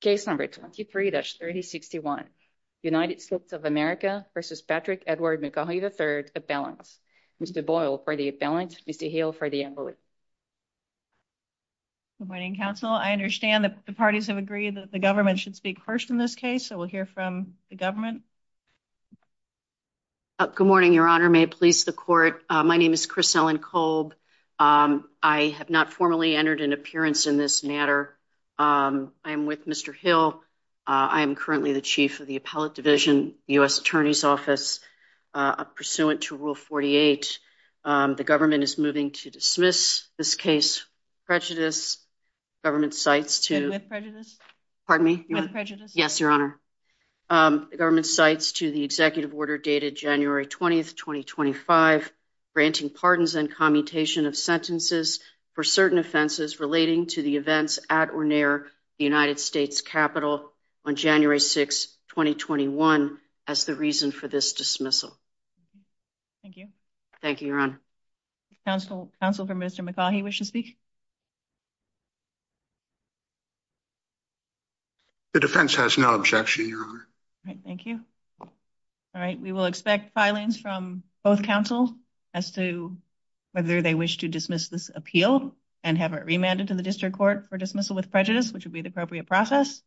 Case No. 23-3061, United States of America v. Patrick Edward McCaughey, III, Appellant. Mr. Boyle for the Appellant, Ms. DeHill for the Envoy. Good morning, Counsel. I understand that the parties have agreed that the government should speak first in this case, so we'll hear from the government. Good morning, Your Honor. May it please the Court. My name is Chris Ellen Kolb. I have not formally entered an appearance in this matter. I am with Mr. Hill. I am currently the Chief of the Appellate Division, U.S. Attorney's Office, pursuant to Rule 48. The government is moving to dismiss this case. Prejudice. Government cites to... With prejudice? Pardon me? With prejudice? Yes, Your Honor. The government cites to the executive order dated January 20, 2025, granting pardons and commutation of sentences for certain offenses relating to the events at or near the United States Capitol on January 6, 2021, as the reason for this dismissal. Thank you. Thank you, Your Honor. Counsel for Mr. McCaughey wishes to speak? The defense has no objection, Your Honor. Thank you. All right, we will expect filings from both counsel as to whether they wish to dismiss this appeal and have it remanded to the district court for dismissal with prejudice, which would be the appropriate process.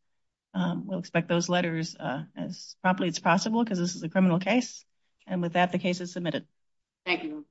We'll expect those letters as promptly as possible because this is a criminal case. And with that, the case is submitted. Thank you.